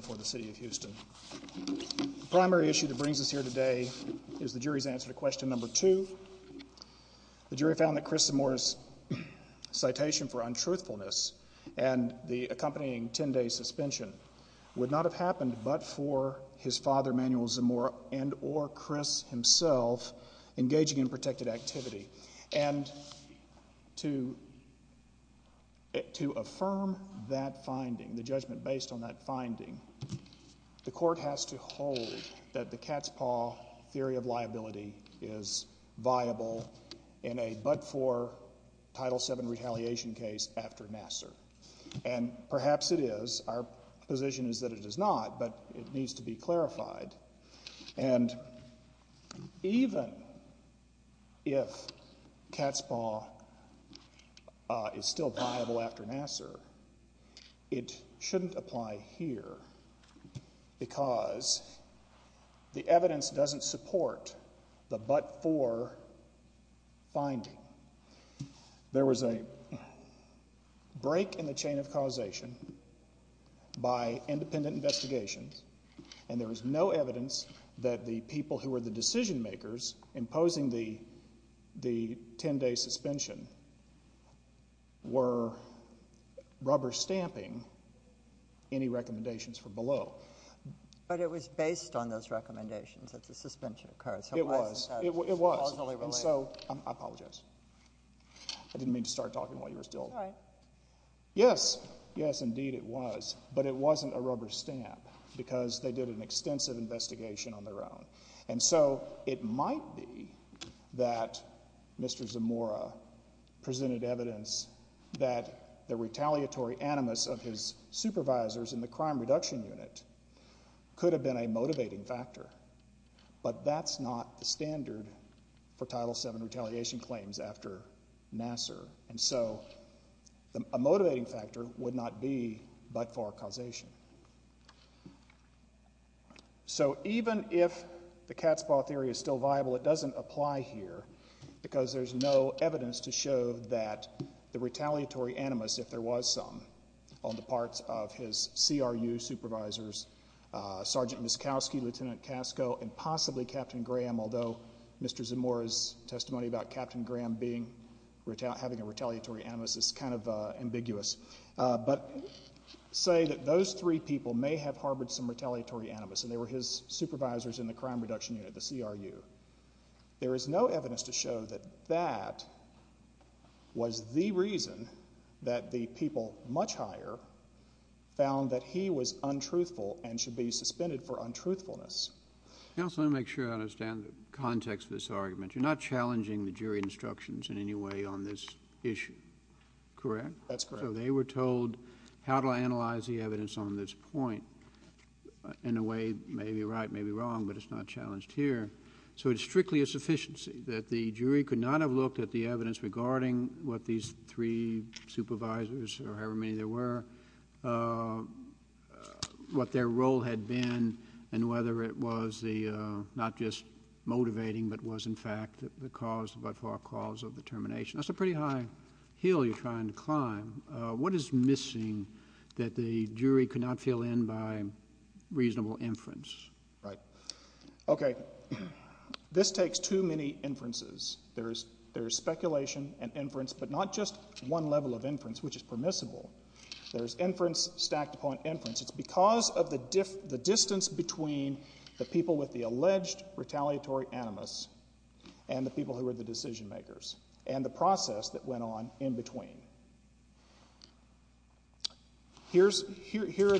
for the City of Houston. The primary issue that brings us here today is the jury's answer to question number two. The jury found that Chris Zamora's citation for untruthfulness and the accompanying 10-day suspension would not have happened but for his father Manuel Zamora and or Chris himself engaging in protected activity and to to affirm that finding the judgment based on that the court has to hold that the cat's-paw theory of liability is viable in a but for Title VII retaliation case after Nassar and perhaps it is. Our position is that it is not but it needs to be clarified and even if cat's-paw is still viable after Nassar, it shouldn't apply here because the evidence doesn't support the but for finding. There was a break in the chain of causation by independent investigations and there was no evidence that the people who were the rubber stamping any recommendations for below. But it was based on those recommendations that the suspension occurred. It was. It was. And so I apologize. I didn't mean to start talking while you were still. All right. Yes, yes indeed it was but it wasn't a rubber stamp because they did an extensive investigation on their own and so it might be that Mr. Zamora presented evidence that the retaliatory animus of his supervisors in the crime reduction unit could have been a motivating factor but that's not the standard for Title VII retaliation claims after Nassar and so a motivating factor would not be but for causation. So even if the cat's-paw theory is still viable, it doesn't apply here because there's no evidence to show that the retaliatory animus, if there was some, on the parts of his CRU supervisors, Sergeant Muskowski, Lieutenant Casco, and possibly Captain Graham, although Mr. Zamora's testimony about Captain Graham having a retaliatory animus is kind of ambiguous, but say that those three people may have harbored some retaliatory animus and they were his supervisors in the crime reduction unit, the CRU. There is no evidence to show that that was the reason that the people much higher found that he was untruthful and should be suspended for untruthfulness. Counsel, let me make sure I understand the context of this argument. You're not challenging the jury instructions in any way on this issue, correct? That's correct. So they were told how to analyze the evidence on this point in a way maybe right, maybe wrong, but it's not challenged here. So it's strictly a sufficiency that the jury could not have looked at the evidence regarding what these three supervisors or however many there were, what their role had been, and whether it was the not just motivating but was in fact the cause, by far, cause of the termination. That's a pretty high hill you're trying to climb. What is missing that the jury could not fill in by reasonable inference? Right. Okay, this takes too many inferences. There's speculation and inference, but not just one level of inference which is permissible. There's inference stacked upon inference. It's because of the distance between the people with the alleged retaliatory animus and the people who were the decision-makers and the process that went on in between. Here are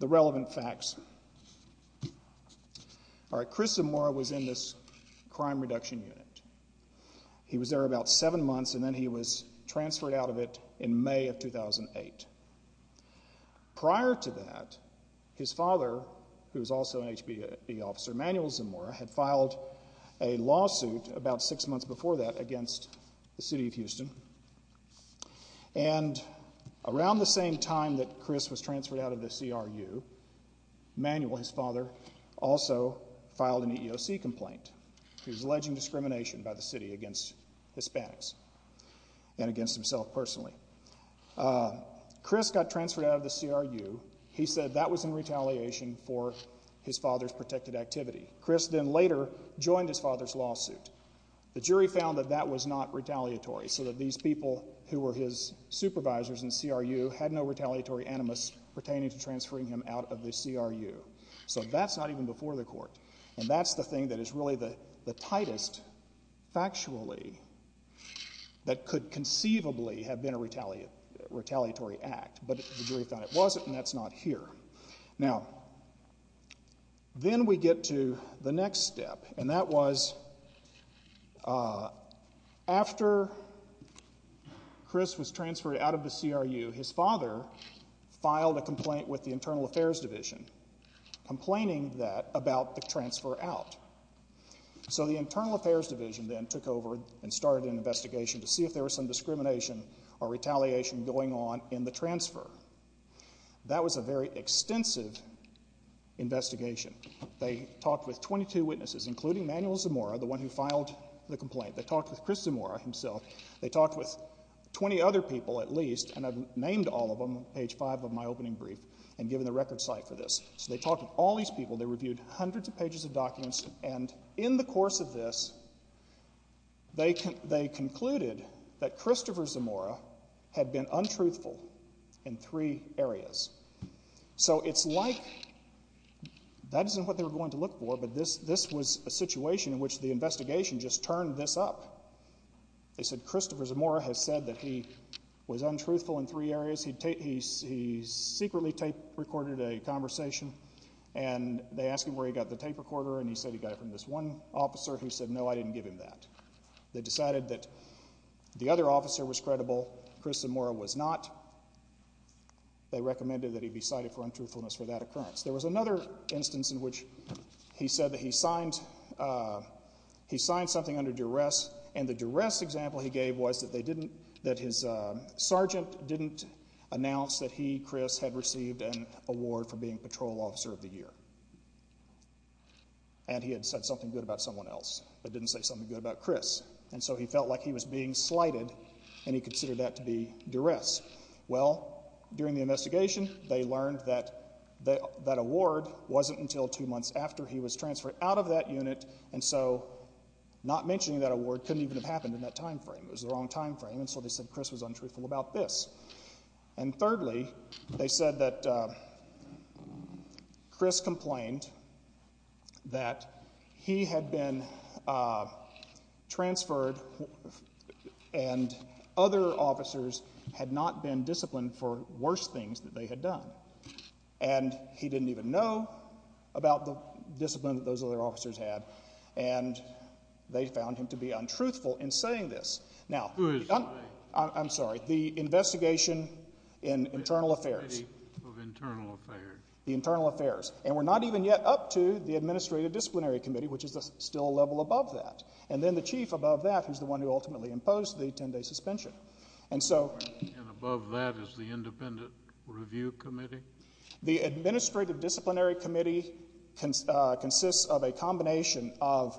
the relevant facts. All right, Chris Zamora was in this crime reduction unit. He was there about seven months and then he was transferred out of it in May of 2008. Prior to that, his father, who was also an HB officer, Manuel Zamora, had a lawsuit about six months before that against the city of Houston. And around the same time that Chris was transferred out of the CRU, Manuel, his father, also filed an EEOC complaint. He was alleging discrimination by the city against Hispanics and against himself personally. Chris got transferred out of the CRU. He said that was in retaliation for his father's protected activity. Chris then later joined his father's lawsuit. The jury found that that was not retaliatory so that these people who were his supervisors in CRU had no retaliatory animus pertaining to transferring him out of the CRU. So that's not even before the court. And that's the thing that is really the tightest, factually, that could conceivably have been a retaliatory act. But the jury found it wasn't and that's not here. Now, then we get to the next step. And that was after Chris was transferred out of the CRU, his father filed a complaint with the Internal Affairs Division, complaining that about the transfer out. So the Internal Affairs Division then took over and started an investigation to see if there was some evidence. And that was a very extensive investigation. They talked with 22 witnesses, including Manuel Zamora, the one who filed the complaint. They talked with Chris Zamora himself. They talked with 20 other people, at least, and I've named all of them on page 5 of my opening brief and given the record site for this. So they talked with all these people. They reviewed hundreds of pages of documents. And in the course of this, they concluded that Christopher Zamora had been untruthful in three areas. So it's like that isn't what they were going to look for, but this was a situation in which the investigation just turned this up. They said Christopher Zamora has said that he was untruthful in three areas. He secretly tape recorded a conversation and they asked him where he got the tape recorder and he said he got it from this one officer who said, no, I didn't give him that. They decided that the other officer was credible. Chris Zamora was not. They recommended that he be cited for untruthfulness for that occurrence. There was another instance in which he said that he signed something under duress and the duress example he gave was that his sergeant didn't announce that he, Chris, had received an award for being patrol officer of the year. And he had said something good about someone else, but didn't say something good about Chris. And so he felt like he was being slighted and he considered that to be duress. Well, during the investigation, they learned that that award wasn't until two months after he was transferred out of that unit and so not mentioning that award couldn't even have happened in that time frame. It was the wrong time frame and so they said Chris was untruthful about this. And thirdly, they said that Chris complained that he had been transferred and other officers had not been disciplined for worse things that they had done. And he didn't even know about the discipline that those other officers had and they found him to be untruthful in saying this. Now, I'm sorry, the investigation in the internal affairs and we're not even yet up to the administrative disciplinary committee, which is still a level above that. And then the chief above that is the one who ultimately imposed the 10-day suspension. And so the administrative disciplinary committee consists of a combination of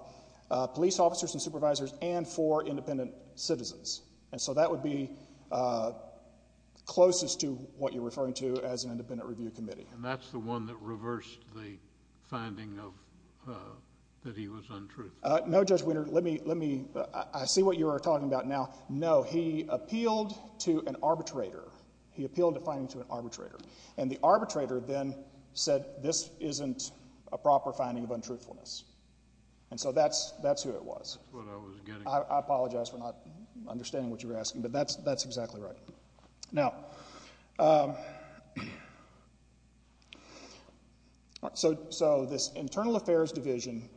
police officers and supervisors and four independent citizens. And so that would be closest to what you're referring to as an independent review committee. And that's the one that reversed the finding of that he was untruthful? No, Judge Wiener, let me, I see what you're talking about now. No, he appealed to an arbitrator. He appealed a finding to an arbitrator. And the arbitrator then said this isn't a proper finding of untruthfulness. And so that's who it was. That's what I was getting at. I apologize for not understanding what you were asking, but that's exactly right. Now, so this internal affairs division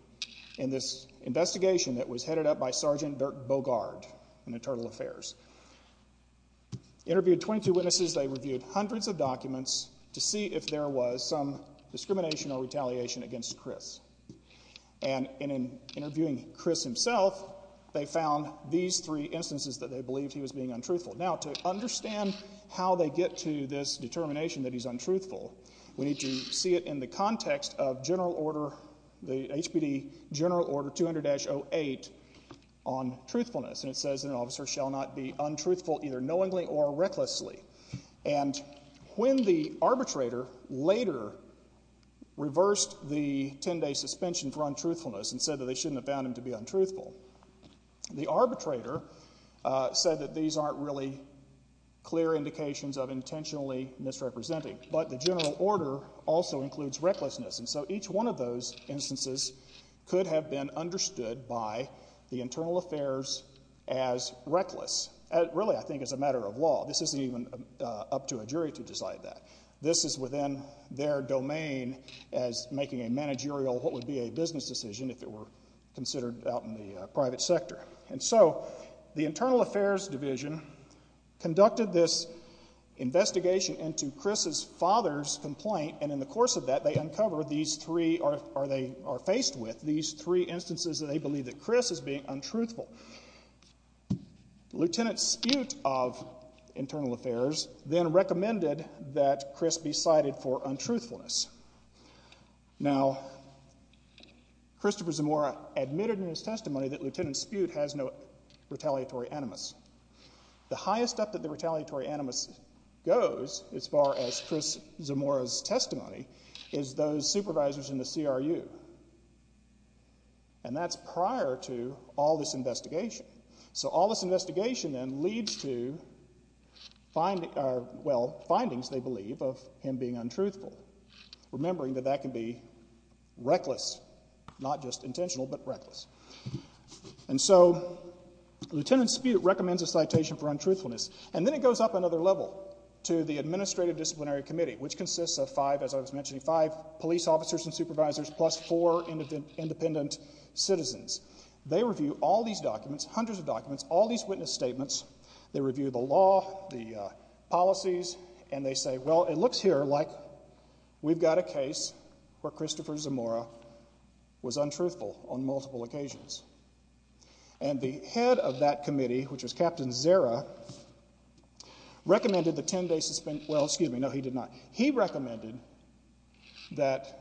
in this investigation that was headed up by Sergeant Dirk Bogard in internal affairs, interviewed 22 witnesses. They reviewed hundreds of documents to see if there was some discrimination or retaliation against Chris. And in interviewing Chris himself, they found these three instances that they believed he was being untruthful. Now, to understand how they get to this determination that he's untruthful, we need to see it in the context of general order, the HPD general order 200-08 on truthfulness. And it says an officer shall not be untruthful either knowingly or recklessly. And when the arbitrator later reversed the 10-day suspension for untruthfulness and said that they shouldn't have found him to be untruthful, the arbitrator said that these aren't really clear indications of intentionally misrepresenting. But the general order also includes recklessness. And so each one of those instances could have been understood by the internal affairs as reckless. Really, I think it's a matter of law. This isn't even up to a jury to decide that. This is within their domain as making a managerial, what would be considered out in the private sector. And so the internal affairs division conducted this investigation into Chris's father's complaint. And in the course of that, they uncovered these three, or they are faced with these three instances that they believe that Chris is being untruthful. Lieutenant Spute of internal affairs then recommended that Chris be cited for untruthfulness. Now, Christopher Zamora admitted in his testimony that Lieutenant Spute has no retaliatory animus. The highest up that the retaliatory animus goes, as far as Chris Zamora's testimony, is those supervisors in the CRU. And that's prior to all this investigation. So all this investigation then leads to findings, they believe, of him being untruthful, remembering that that can be reckless, not just intentional, but reckless. And so Lieutenant Spute recommends a citation for untruthfulness. And then it goes up another level to the administrative disciplinary committee, which consists of five, as I was mentioning, five police officers and supervisors plus four independent citizens. They review all these documents, hundreds of documents, all these witness statements. They review the law, the policies, and they say, well, it looks here like we've got a case where Christopher Zamora was untruthful on multiple occasions. And the head of that committee, which was Captain Zera, recommended the ten-day suspension, well, excuse me, no, he did not. He recommended that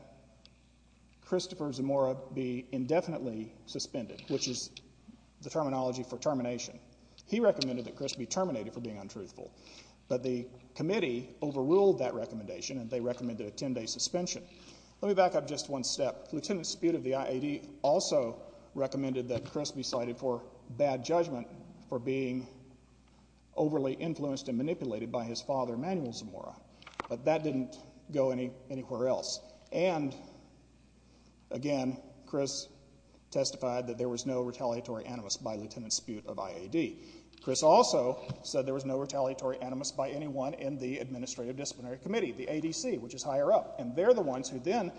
Christopher Zamora be terminated for being untruthful. But the committee overruled that recommendation, and they recommended a ten-day suspension. Let me back up just one step. Lieutenant Spute of the IAD also recommended that Chris be cited for bad judgment for being overly influenced and manipulated by his father, Manuel Zamora. But that didn't go anywhere else. And, again, Chris testified that there was no retaliatory animus by Lieutenant Spute. Chris also said there was no retaliatory animus by anyone in the Administrative Disciplinary Committee, the ADC, which is higher up. And they're the ones who then,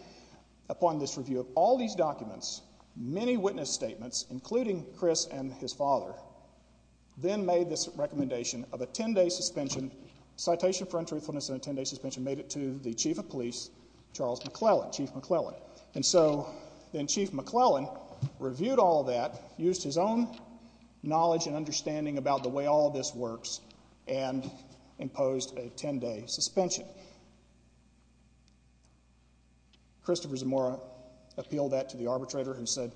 upon this review of all these documents, many witness statements, including Chris and his father, then made this recommendation of a ten-day suspension, citation for untruthfulness and a ten-day suspension, made it to the chief of police, Charles McClellan, Chief McClellan. And so then Chief McClellan reviewed all that, used his own knowledge and understanding about the way all this works, and imposed a ten-day suspension. Christopher Zamora appealed that to the arbitrator, who said,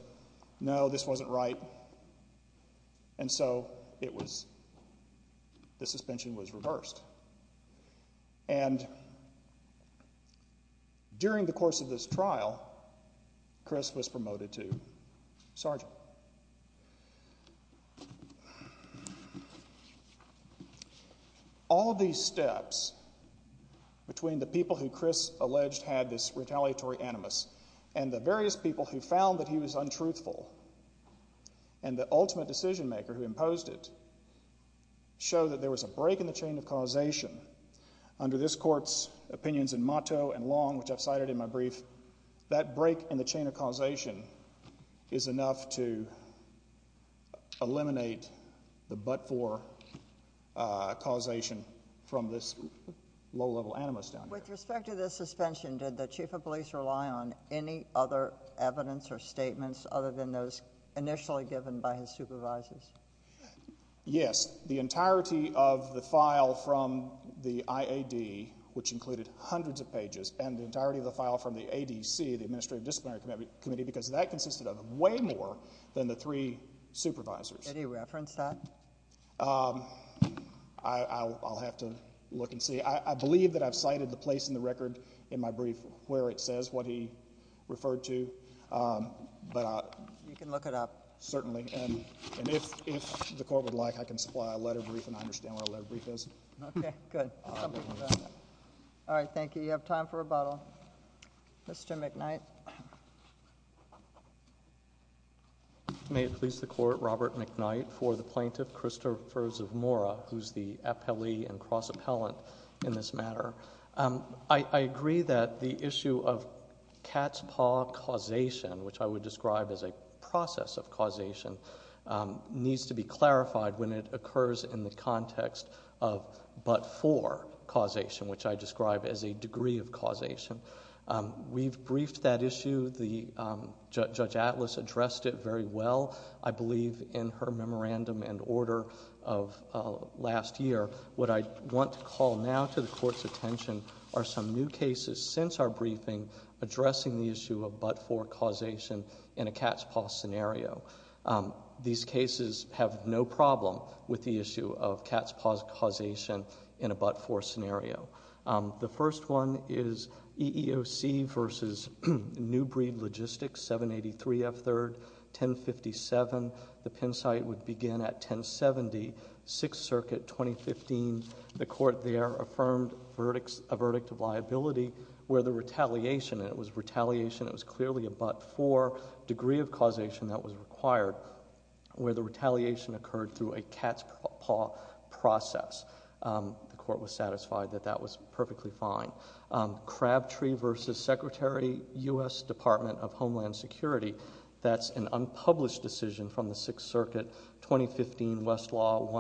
no, this wasn't right. And so it was, the suspension was reversed. And during the course of this trial, Chris was promoted to sergeant. All these steps between the people who Chris alleged had this retaliatory animus and the various people who found that he was untruthful and the ultimate decision-maker who imposed it show that there was a break in the chain of causation. Under this Court's opinions in Motto and Long, which I've cited in my brief, that break in the causation is enough to eliminate the but-for causation from this low-level animus down here. With respect to this suspension, did the chief of police rely on any other evidence or statements other than those initially given by his supervisors? Yes. The entirety of the file from the IAD, which included hundreds of pages, and the entirety of the file from the ADC, the Administrative Disciplinary Committee, because that consisted of way more than the three supervisors. Did he reference that? I'll have to look and see. I believe that I've cited the place in the record in my brief where it says what he referred to. You can look it up. Certainly. And if the Court would like, I can supply a letter brief and I understand where a letter brief is. Okay, good. All right, thank you. You have time for rebuttal. Mr. McKnight. May it please the Court, Robert McKnight, for the Plaintiff Christopher Zamora, who's the appellee and cross-appellant in this matter. I agree that the issue of cat's paw causation, which I would describe as a process of causation, needs to be clarified when it occurs in the context of but-for causation, which I describe as a degree of causation. We've briefed that issue. Judge Atlas addressed it very well, I believe in her memorandum and order of last year. What I want to call now to the Court's attention are some new cases since our briefing addressing the issue of but-for causation in a cat's paw scenario. These cases have no problem with the issue of cat's paw causation in a but-for scenario. The first one is EEOC v. New Breed Logistics, 783 F. 3rd, 1057. The Penn site would begin at 1070, 6th Circuit, 2015. The Court there affirmed a verdict of liability where the retaliation, and it was retaliation, it was clearly a but-for degree of causation that was required, where the retaliation occurred through a cat's paw process. The Court was satisfied that that was perfectly fine. Crabtree v. Secretary, U.S. Department of Homeland Security, that's an unpublished decision from the 6th Circuit, 2015, Westlaw,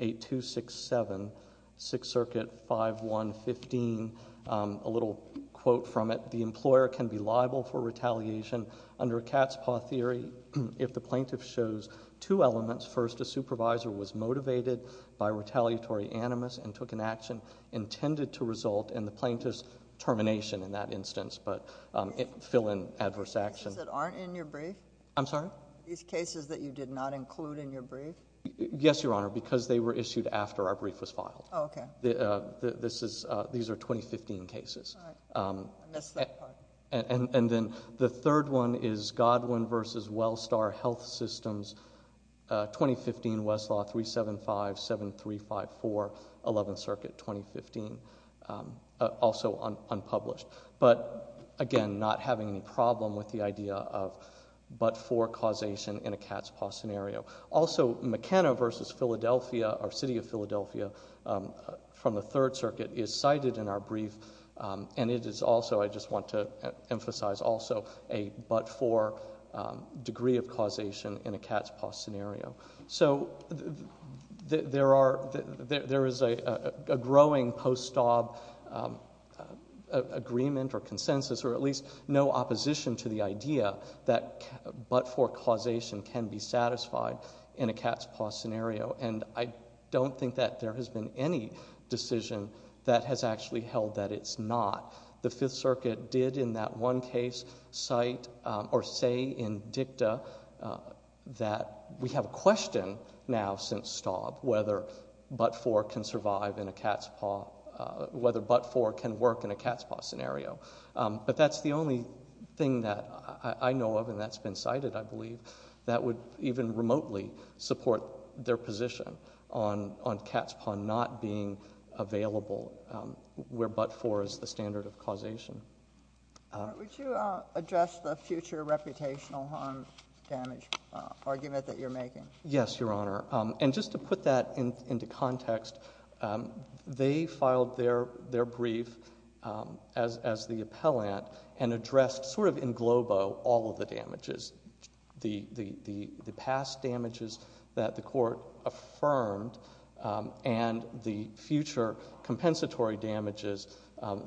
1948267, 6th Circuit, 5115. A little quote from it, the employer can be a cat's paw theory if the plaintiff shows two elements. First, a supervisor was motivated by retaliatory animus and took an action intended to result in the plaintiff's termination in that instance, but fill in adverse action. These cases that aren't in your brief? I'm sorry? These cases that you did not include in your brief? Yes, Your Honor, because they were issued after our brief was filed. Oh, okay. These are 2015 cases. I missed that part. And then the third one is Godwin v. Wellstar Health Systems, 2015, Westlaw, 3757354, 11th Circuit, 2015, also unpublished. But, again, not having any problem with the idea of but-for causation in a cat's-paw scenario. Also, McKenna v. Philadelphia, or City of Philadelphia, from the 3rd Circuit, is cited in our brief, and it is also, I just want to emphasize also, a but-for degree of causation in a cat's-paw scenario. So there is a growing post-ob agreement or consensus, or at least no opposition to the idea that but-for causation can be satisfied in a cat's-paw scenario, and I don't think that there has been any decision that has actually held that it's not. The 5th Circuit did in that one case cite or say in dicta that we have a question now since Staub whether but-for can survive in a cat's-paw, whether but-for can work in a cat's-paw scenario. But that's the only thing that I know of and that's been cited, I believe, that would even remotely support their position on cat's-paw not being available where but-for is the standard of causation. Would you address the future reputational harm damage argument that you're making? Yes, Your Honor. And just to put that into context, they filed their brief as the appellant and addressed sort of in globo all of the damages, the past damages that the Court affirmed and the future compensatory damages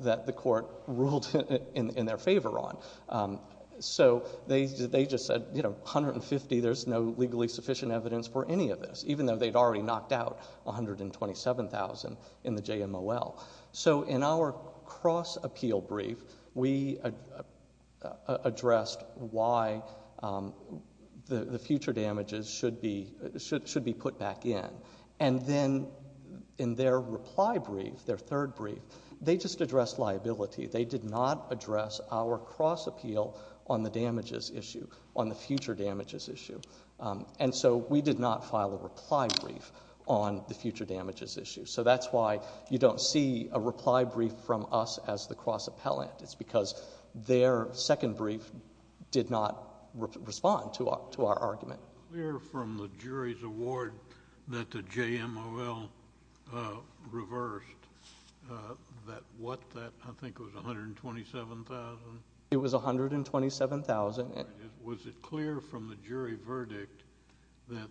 that the Court ruled in their favor on. So they just said, you know, 150, there's no legally sufficient evidence for any of this, even though they'd already knocked out 127,000 in the JMOL. So in our cross-appeal brief, we addressed why the future damages should be put back in. And then in their reply brief, their third brief, they just addressed liability. They did not address our cross-appeal on the damages issue, on the future damages issue. And so we did not file a reply brief on the future damages issue. So that's why you don't see a reply brief from us as the cross-appellant. It's because their second brief did not respond to our argument. We hear from the jury's award that the JMOL reversed that, what, I think it was 127,000? It was 127,000. Was it clear from the jury verdict that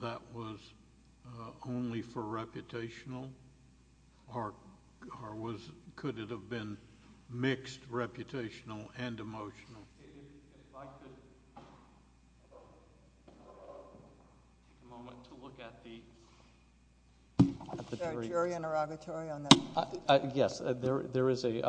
that was only for reputational? Or could it have been mixed reputational and emotional? I'd like to take a moment to look at the jury interrogatory on that. Yes, there is a...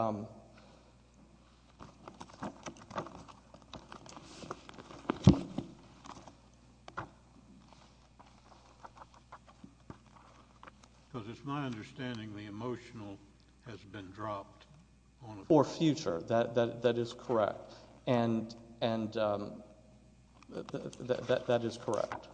Because it's my understanding the emotional has been dropped. Or future, that is correct. And that is correct.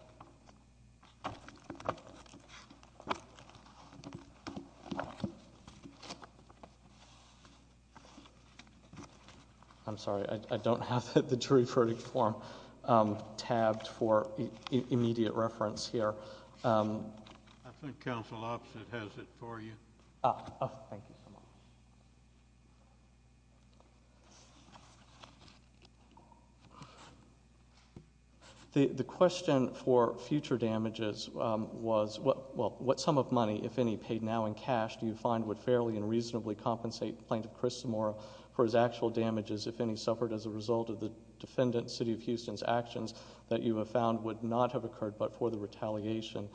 I'm sorry, I don't have the jury verdict form tabbed for immediate reference here. I think counsel opposite has it for you. Oh, thank you so much. The question for future damages was, well, what sum of money, if any, paid now in cash do you find would fairly and reasonably compensate Plaintiff Christomore for his actual damages, if any, suffered as a result of the defendant, City of Houston's actions, that you have found would not have occurred but for the retaliation?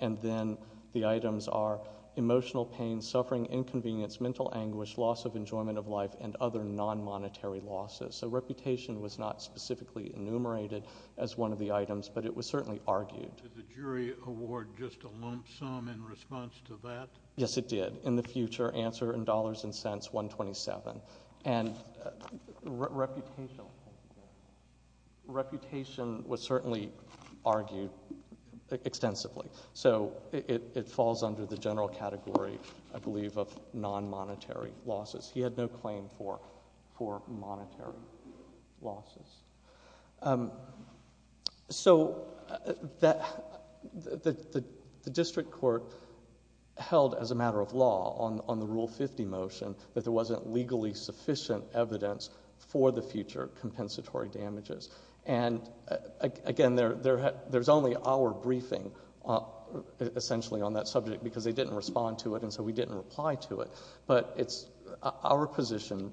And then the items are emotional pain, suffering, inconvenience, mental anguish, loss of enjoyment of life, and other non-monetary losses. So reputation was not specifically enumerated as one of the items, but it was certainly argued. Did the jury award just a lump sum in response to that? Yes, it did. In the future, answer in dollars and cents, 127. And reputation was certainly argued extensively. So it falls under the general category, I believe, of non-monetary losses. He had no claim for monetary losses. So the district court held, as a matter of law, on the Rule 50 motion, that there wasn't legally sufficient evidence for the future compensatory damages. And again, there's only our briefing, essentially, on that subject, because they didn't respond to it, and so we didn't reply to it. But it's our position,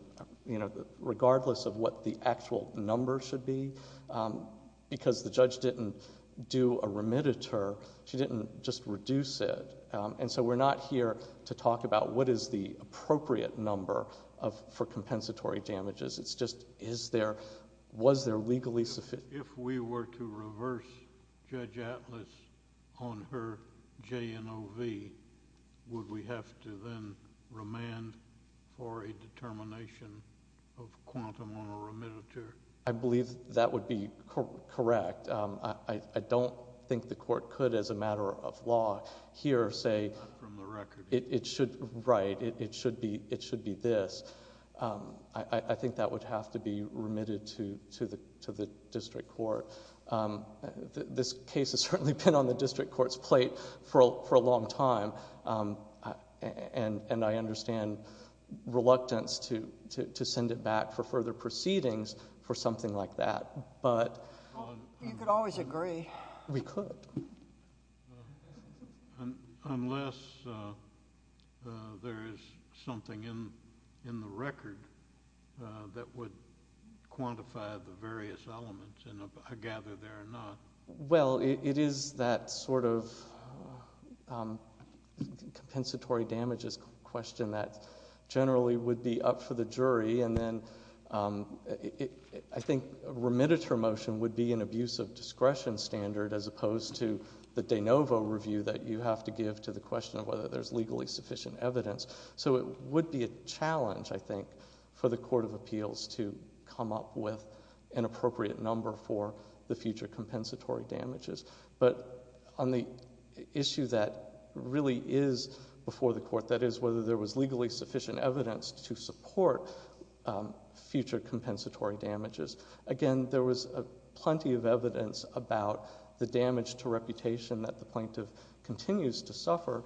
regardless of what the actual number should be, because the judge didn't do a remediator, she didn't just reduce it. And so we're not here to talk about what is the appropriate number for compensatory damages. It's just, was there legally sufficient? If we were to reverse Judge Atlas on her JNOV, would we have to then remand for a determination of quantum on a remediator? I believe that would be correct. I don't think the court could, as a matter of law, here say... Not from the record. Right. It should be this. I think that would have to be remitted to the district court. This case has certainly been on the district court's plate for a long time. And I understand reluctance to send it back for further proceedings for something like that. You could always agree. We could. Unless there is something in the record that would quantify the various elements. I gather there are not. Well, it is that sort of compensatory damages question that generally would be up for the jury. And then I think a remediator motion would be an abuse of discretion standard as opposed to the JNOV overview that you have to give to the question of whether there's legally sufficient evidence. So it would be a challenge, I think, for the court of appeals to come up with an appropriate number for the future compensatory damages. But on the issue that really is before the court, that is whether there was legally sufficient evidence to support future compensatory damages, again, there was plenty of evidence about the damage to reputation that the plaintiff continues to suffer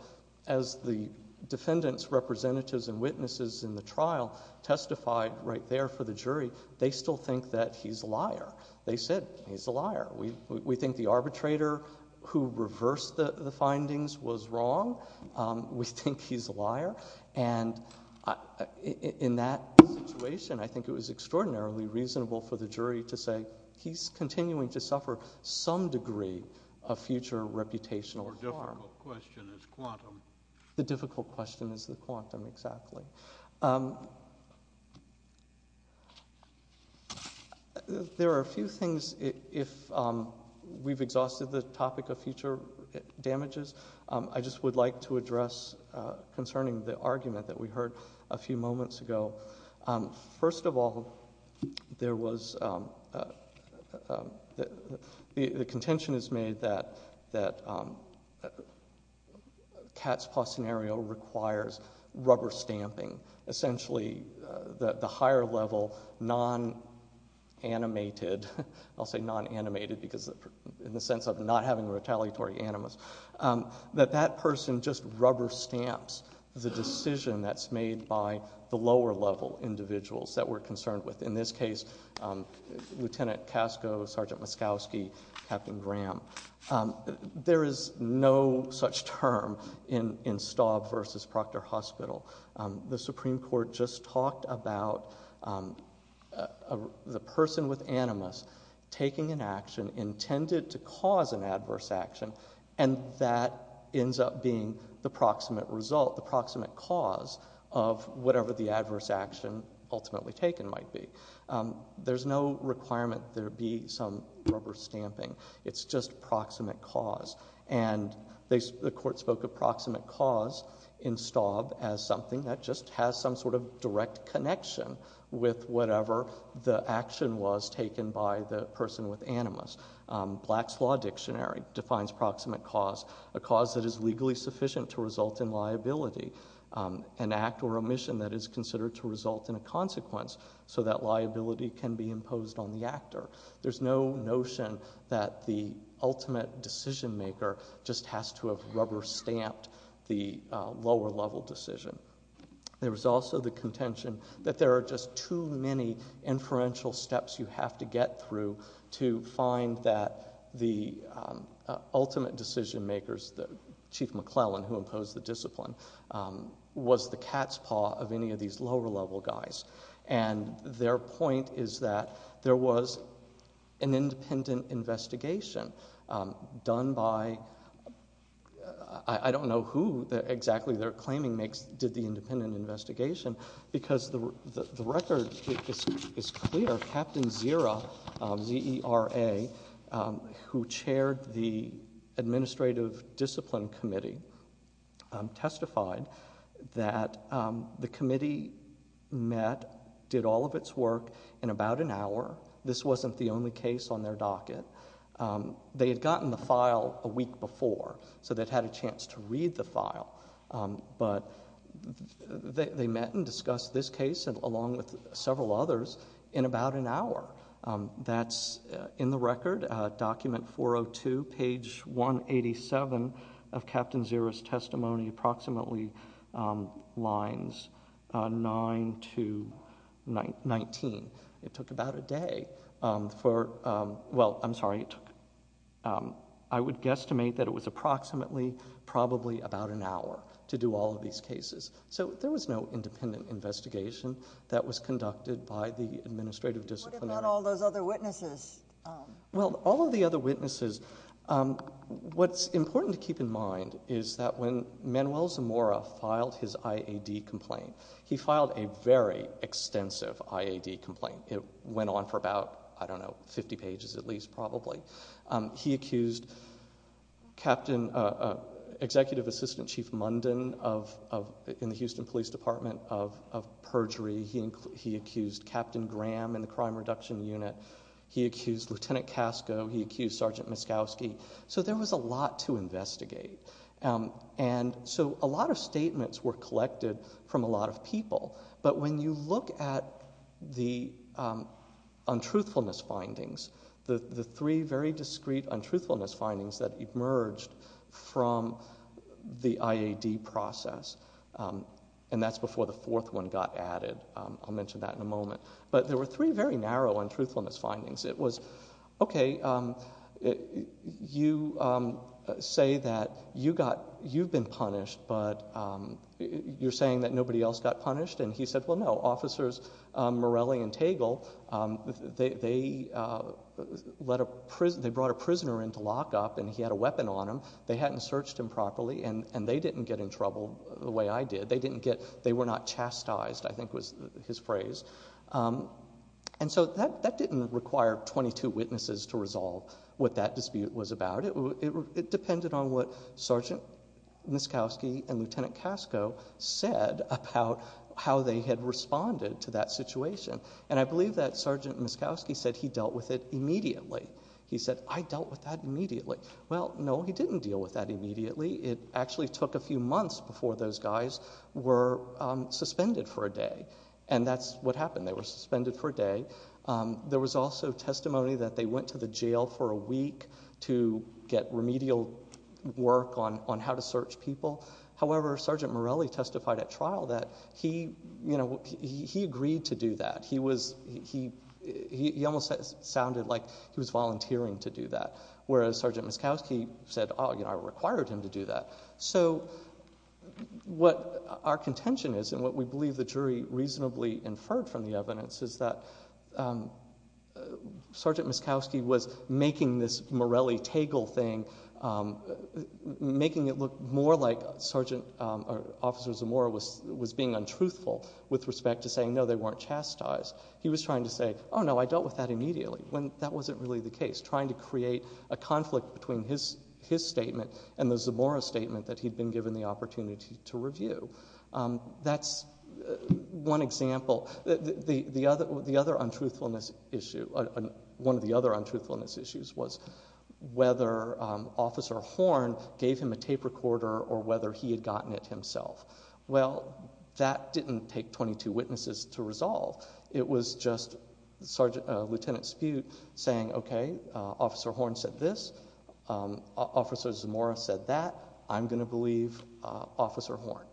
as the defendant's representatives and witnesses in the trial testified right there for the jury. They still think that he's a liar. They said he's a liar. We think the arbitrator who reversed the findings was wrong. We think he's a liar. And in that situation, I think it was extraordinarily reasonable for the jury to say he's continuing to suffer some degree of future reputational harm. The difficult question is quantum. The difficult question is the quantum, exactly. There are a few things if we've exhausted the topic of future damages. I just would like to address concerning the argument that we heard a few moments ago. First of all, the contention is made that Katz-Postenario requires rubber stamping. Essentially, the higher level non-animated, I'll say non-animated because in the sense of not having retaliatory animus, that that person just rubber stamps the decision that's made by the lower level individuals that we're concerned with. In this case, Lieutenant Casco, Sergeant Muskowski, Captain Graham. There is no such term in Staub v. Proctor Hospital. The Supreme Court just talked about the person with animus taking an action intended to cause an adverse action and that ends up being the proximate result, the proximate cause of whatever the adverse action ultimately taken might be. There's no requirement there be some rubber stamping. It's just proximate cause. The court spoke of proximate cause in Staub as something that just has some sort of direct connection with whatever the action was taken by the person with animus. Black's Law Dictionary defines proximate cause a cause that is legally sufficient to result in liability. An act or omission that is considered to result in a consequence so that liability can be imposed on the actor. There's no notion that the ultimate decision maker just has to have rubber stamped the lower level decision. There was also the contention that there are just too many inferential steps you have to get through to find that the ultimate decision makers, Chief McClellan who imposed the discipline, was the cat's paw of any of these lower level guys. Their point is that there was an independent investigation done by, I don't know who exactly they're claiming did the independent investigation, because the record is clear. Captain Zera, Z-E-R-A, who chaired the Administrative Discipline Committee, testified that the committee met, did all of its work in about an hour. This wasn't the only case on their docket. They had gotten the file a week before, so they'd had a chance to read the file. They met and discussed this case along with several others in about an hour. That's in the record, document 402, page 187 of Captain Zera's testimony, approximately lines 9 to 19. It took about a day. Well, I'm sorry. I would guesstimate that it was approximately, probably about an hour to do all of these cases. There was no independent investigation that was conducted by the administrative discipline. What about all those other witnesses? All of the other witnesses, what's important to keep in mind is that when Manuel Zamora filed his IAD complaint, he filed a very extensive IAD complaint. It went on for about, I don't know, 50 pages at least, probably. He accused Executive Assistant Chief Munden in the Houston Police Department of perjury. He accused Captain Graham in the Crime Reduction Unit. He accused Lieutenant Casco. He accused Sergeant Muskowski. There was a lot to investigate. A lot of statements were collected from a lot of people, but when you look at the untruthfulness findings, the three very discreet untruthfulness findings that emerged from the IAD process, and that's before the fourth one got added. I'll mention that in a moment. But there were three very narrow untruthfulness findings. It was, okay, you say that you've been punished, but you're saying that nobody else got punished? And he said, well, no, Officers Morelli and Tegel, they brought a prisoner into lockup, and he had a weapon on him. They hadn't searched him properly, and they didn't get in trouble the way I did. They were not chastised, I think was his phrase. And so that didn't require 22 witnesses to resolve what that dispute was about. It depended on what Sergeant Muskowski and Lieutenant Casco said about how they had responded to that situation. And I believe that Sergeant Muskowski said he dealt with it immediately. He said, I dealt with that immediately. Well, no, he didn't deal with that immediately. It actually took a few months before those guys were suspended for a day. And that's what happened. They were suspended for a day. There was also testimony that they went to the jail for a week to get remedial work on how to search people. However, Sergeant Morelli testified at trial that he agreed to do that. He almost sounded like he was volunteering to do that, whereas Sergeant Muskowski said, oh, I required him to do that. So what our contention is, and what we believe the jury reasonably inferred from the evidence, is that Sergeant Muskowski was making this Morelli-Tagel thing, making it look more like Officer Zamora was being untruthful with respect to saying, no, they weren't chastised. He was trying to say, oh, no, I dealt with that immediately, when that wasn't really the case, trying to create a conflict between his statement and the Zamora statement that he'd been given the opportunity to review. That's one example. The other untruthfulness issue, one of the other untruthfulness issues, was whether Officer Horne gave him a tape recorder or whether he had gotten it himself. Well, that didn't take 22 witnesses to resolve. It was just Lieutenant Spute saying, okay, Officer Horne said this, Officer Zamora said that, I'm going to believe Officer Horne.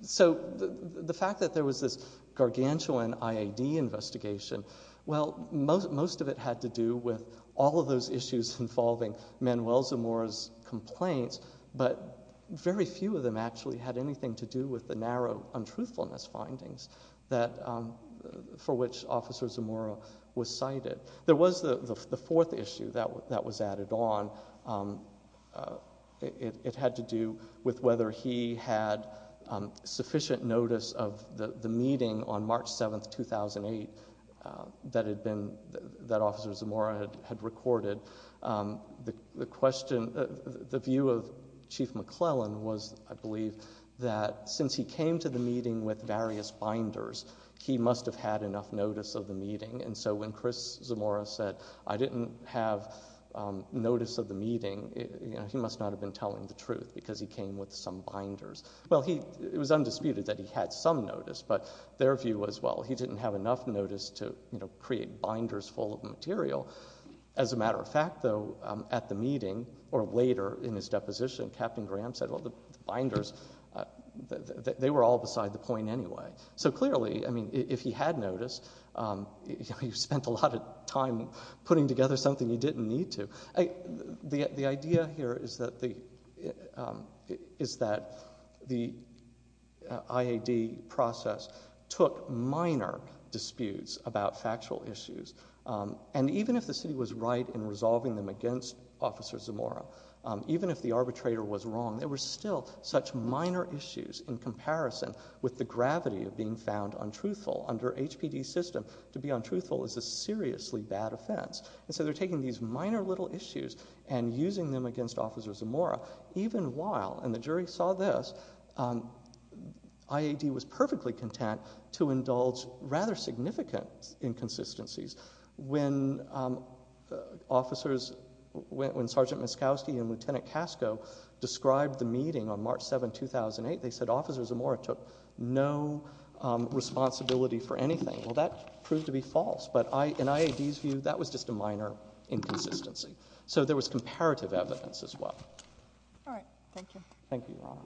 So the fact that there was this gargantuan IAD investigation, well, most of it had to do with all of those issues involving Manuel Zamora's complaints, but very few of them actually had anything to do with the narrow untruthfulness findings for which Officer Zamora was cited. There was the fourth issue that was added on. It had to do with whether he had sufficient notice of the meeting on March 7, 2008 that Officer Zamora had recorded. The question, the view of Chief McClellan was, I believe, that since he came to the meeting with various binders, and so when Chris Zamora said, I didn't have notice of the meeting, he must not have been telling the truth because he came with some binders. Well, it was undisputed that he had some notice, but their view was, well, he didn't have enough notice to create binders full of material. As a matter of fact, though, at the meeting, or later in his deposition, Captain Graham said, well, the binders, they were all beside the point anyway. So clearly, I mean, if he had noticed, he spent a lot of time putting together something he didn't need to. The idea here is that the IAD process took minor disputes about factual issues, and even if the city was right in resolving them against Officer Zamora, even if the arbitrator was wrong, there were still such minor issues in comparison with the gravity of being found untruthful. Under HPD's system, to be untruthful is a seriously bad offense. And so they're taking these minor little issues and using them against Officer Zamora, even while, and the jury saw this, IAD was perfectly content to indulge rather significant inconsistencies. When officers, when Sergeant Miskowski and Lieutenant Casco described the meeting on March 7, 2008, they said Officer Zamora took no responsibility for anything. Well, that proved to be false. But in IAD's view, that was just a minor inconsistency. So there was comparative evidence as well. Thank you, Your Honor.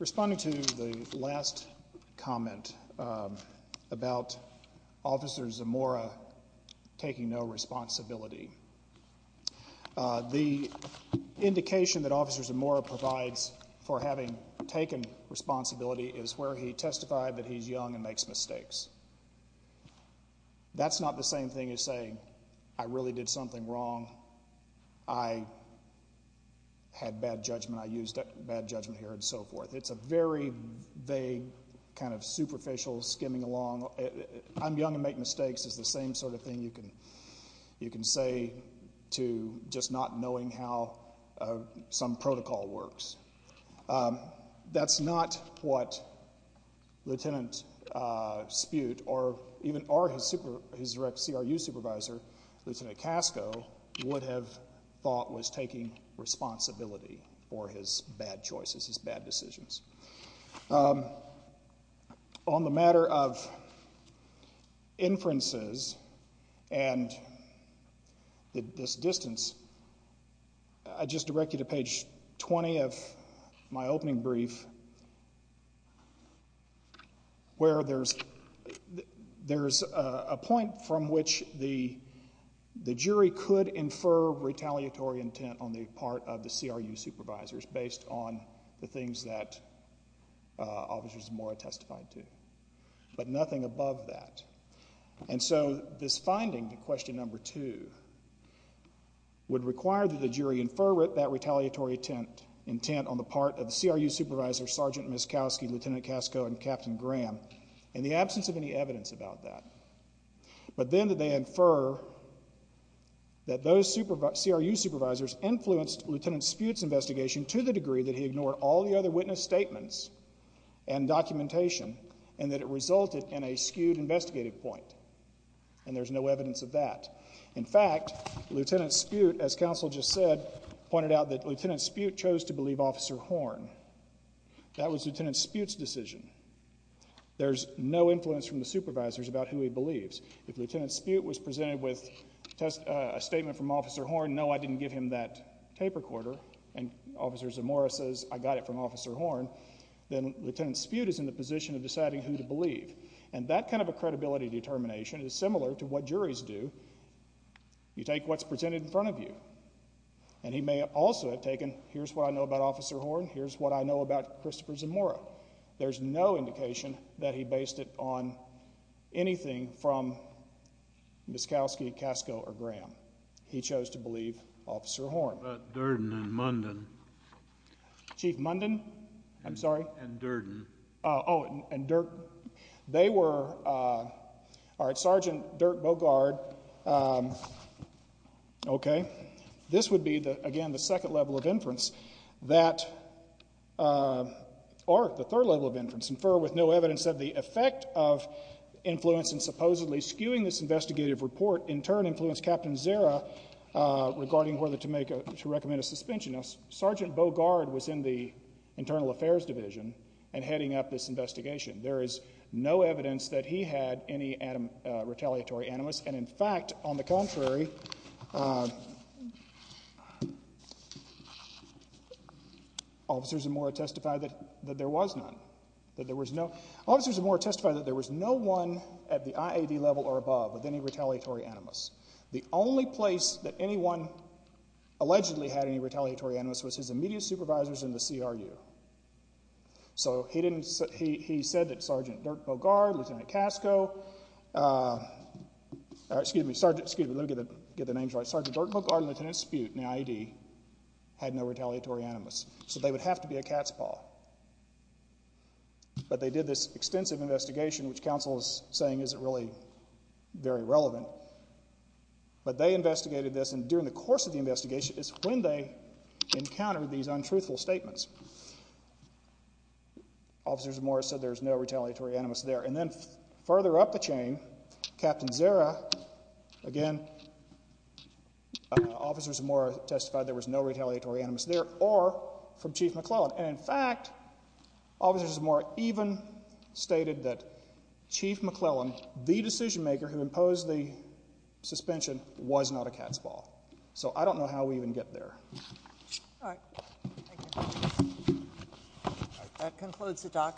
Responding to the last comment about Officer Zamora taking no responsibility, the indication that Officer Zamora provides for having taken responsibility is where he testified that he's young and makes mistakes. That's not the same thing as saying, I really did something wrong, I had bad judgment, I used bad judgment here, and so forth. It's a very vague kind of superficial skimming along. I'm young and make mistakes is the same sort of thing you can say to just not knowing how some protocol works. That's not what Lieutenant Spute or even his direct CRU supervisor, Lieutenant Casco, would have thought was taking responsibility for his bad choices, his bad decisions. On the matter of inferences and this distance, I just direct you to page 20 of my opening brief, where there's a point from which the jury could infer retaliatory intent on the part of the CRU supervisors, based on the things that Officer Zamora testified to. But nothing above that. And so this finding, question number two, would require that the jury infer that retaliatory intent on the part of the CRU supervisors, Sergeant Muskowski, Lieutenant Casco, and Captain Graham, in the absence of any evidence about that. But then that they infer that those CRU supervisors influenced Lieutenant Spute's investigation to the degree that he ignored all the other witness statements and documentation, and that it resulted in a skewed investigative point. And there's no evidence of that. In fact, Lieutenant Spute, as counsel just said, pointed out that Lieutenant Spute chose to believe Officer Horn. That was Lieutenant Spute's decision. There's no influence from the supervisors about who he believes. If Lieutenant Spute was presented with a statement from Officer Horn, no, I didn't give him that tape recorder, and Officer Zamora says, I got it from Officer Horn, then Lieutenant Spute is in the position of deciding who to believe. And that kind of a credibility determination is similar to what juries do. You take what's presented in front of you. And he may also have taken, here's what I know about Officer Horn, here's what I know about Christopher Zamora. There's no indication that he based it on anything from Muskowski, Casco, or Graham. He chose to believe Officer Horn. What about Durden and Munden? Chief Munden? I'm sorry? And Durden. Oh, and Durden. They were... Sergeant Dirk Bogard... Okay. This would be, again, the second level of inference. That... Or the third level of inference. Infer with no evidence of the effect of influence in supposedly skewing this investigative report in turn influenced Captain Zera regarding whether to recommend a suspension. Sergeant Bogard was in the Internal Affairs Division and heading up this investigation. There is no evidence that he had any retaliatory animus. And in fact, on the contrary... Officers Zamora testified that there was none. Officers Zamora testified that there was no one at the IAD level or above with any retaliatory animus. The only place that anyone allegedly had any retaliatory animus was his immediate supervisors in the CRU. So he didn't... He said that Sergeant Dirk Bogard, Lieutenant Casco... Excuse me. Let me get the names right. Sergeant Dirk Bogard and Lieutenant Spute in the IAD had no retaliatory animus. So they would have to be a cat's paw. But they did this extensive investigation, which counsel is saying isn't really very relevant. But they investigated this, and during the course of the investigation is when they encountered these untruthful statements. Officers Zamora said there was no retaliatory animus there. And then further up the chain, Captain Zara... Again... Officers Zamora testified there was no retaliatory animus there or from Chief McClellan. And in fact, Officers Zamora even stated that Chief McClellan, the decision-maker who imposed the suspension, was not a cat's paw. So I don't know how we even get there. All right. Thank you.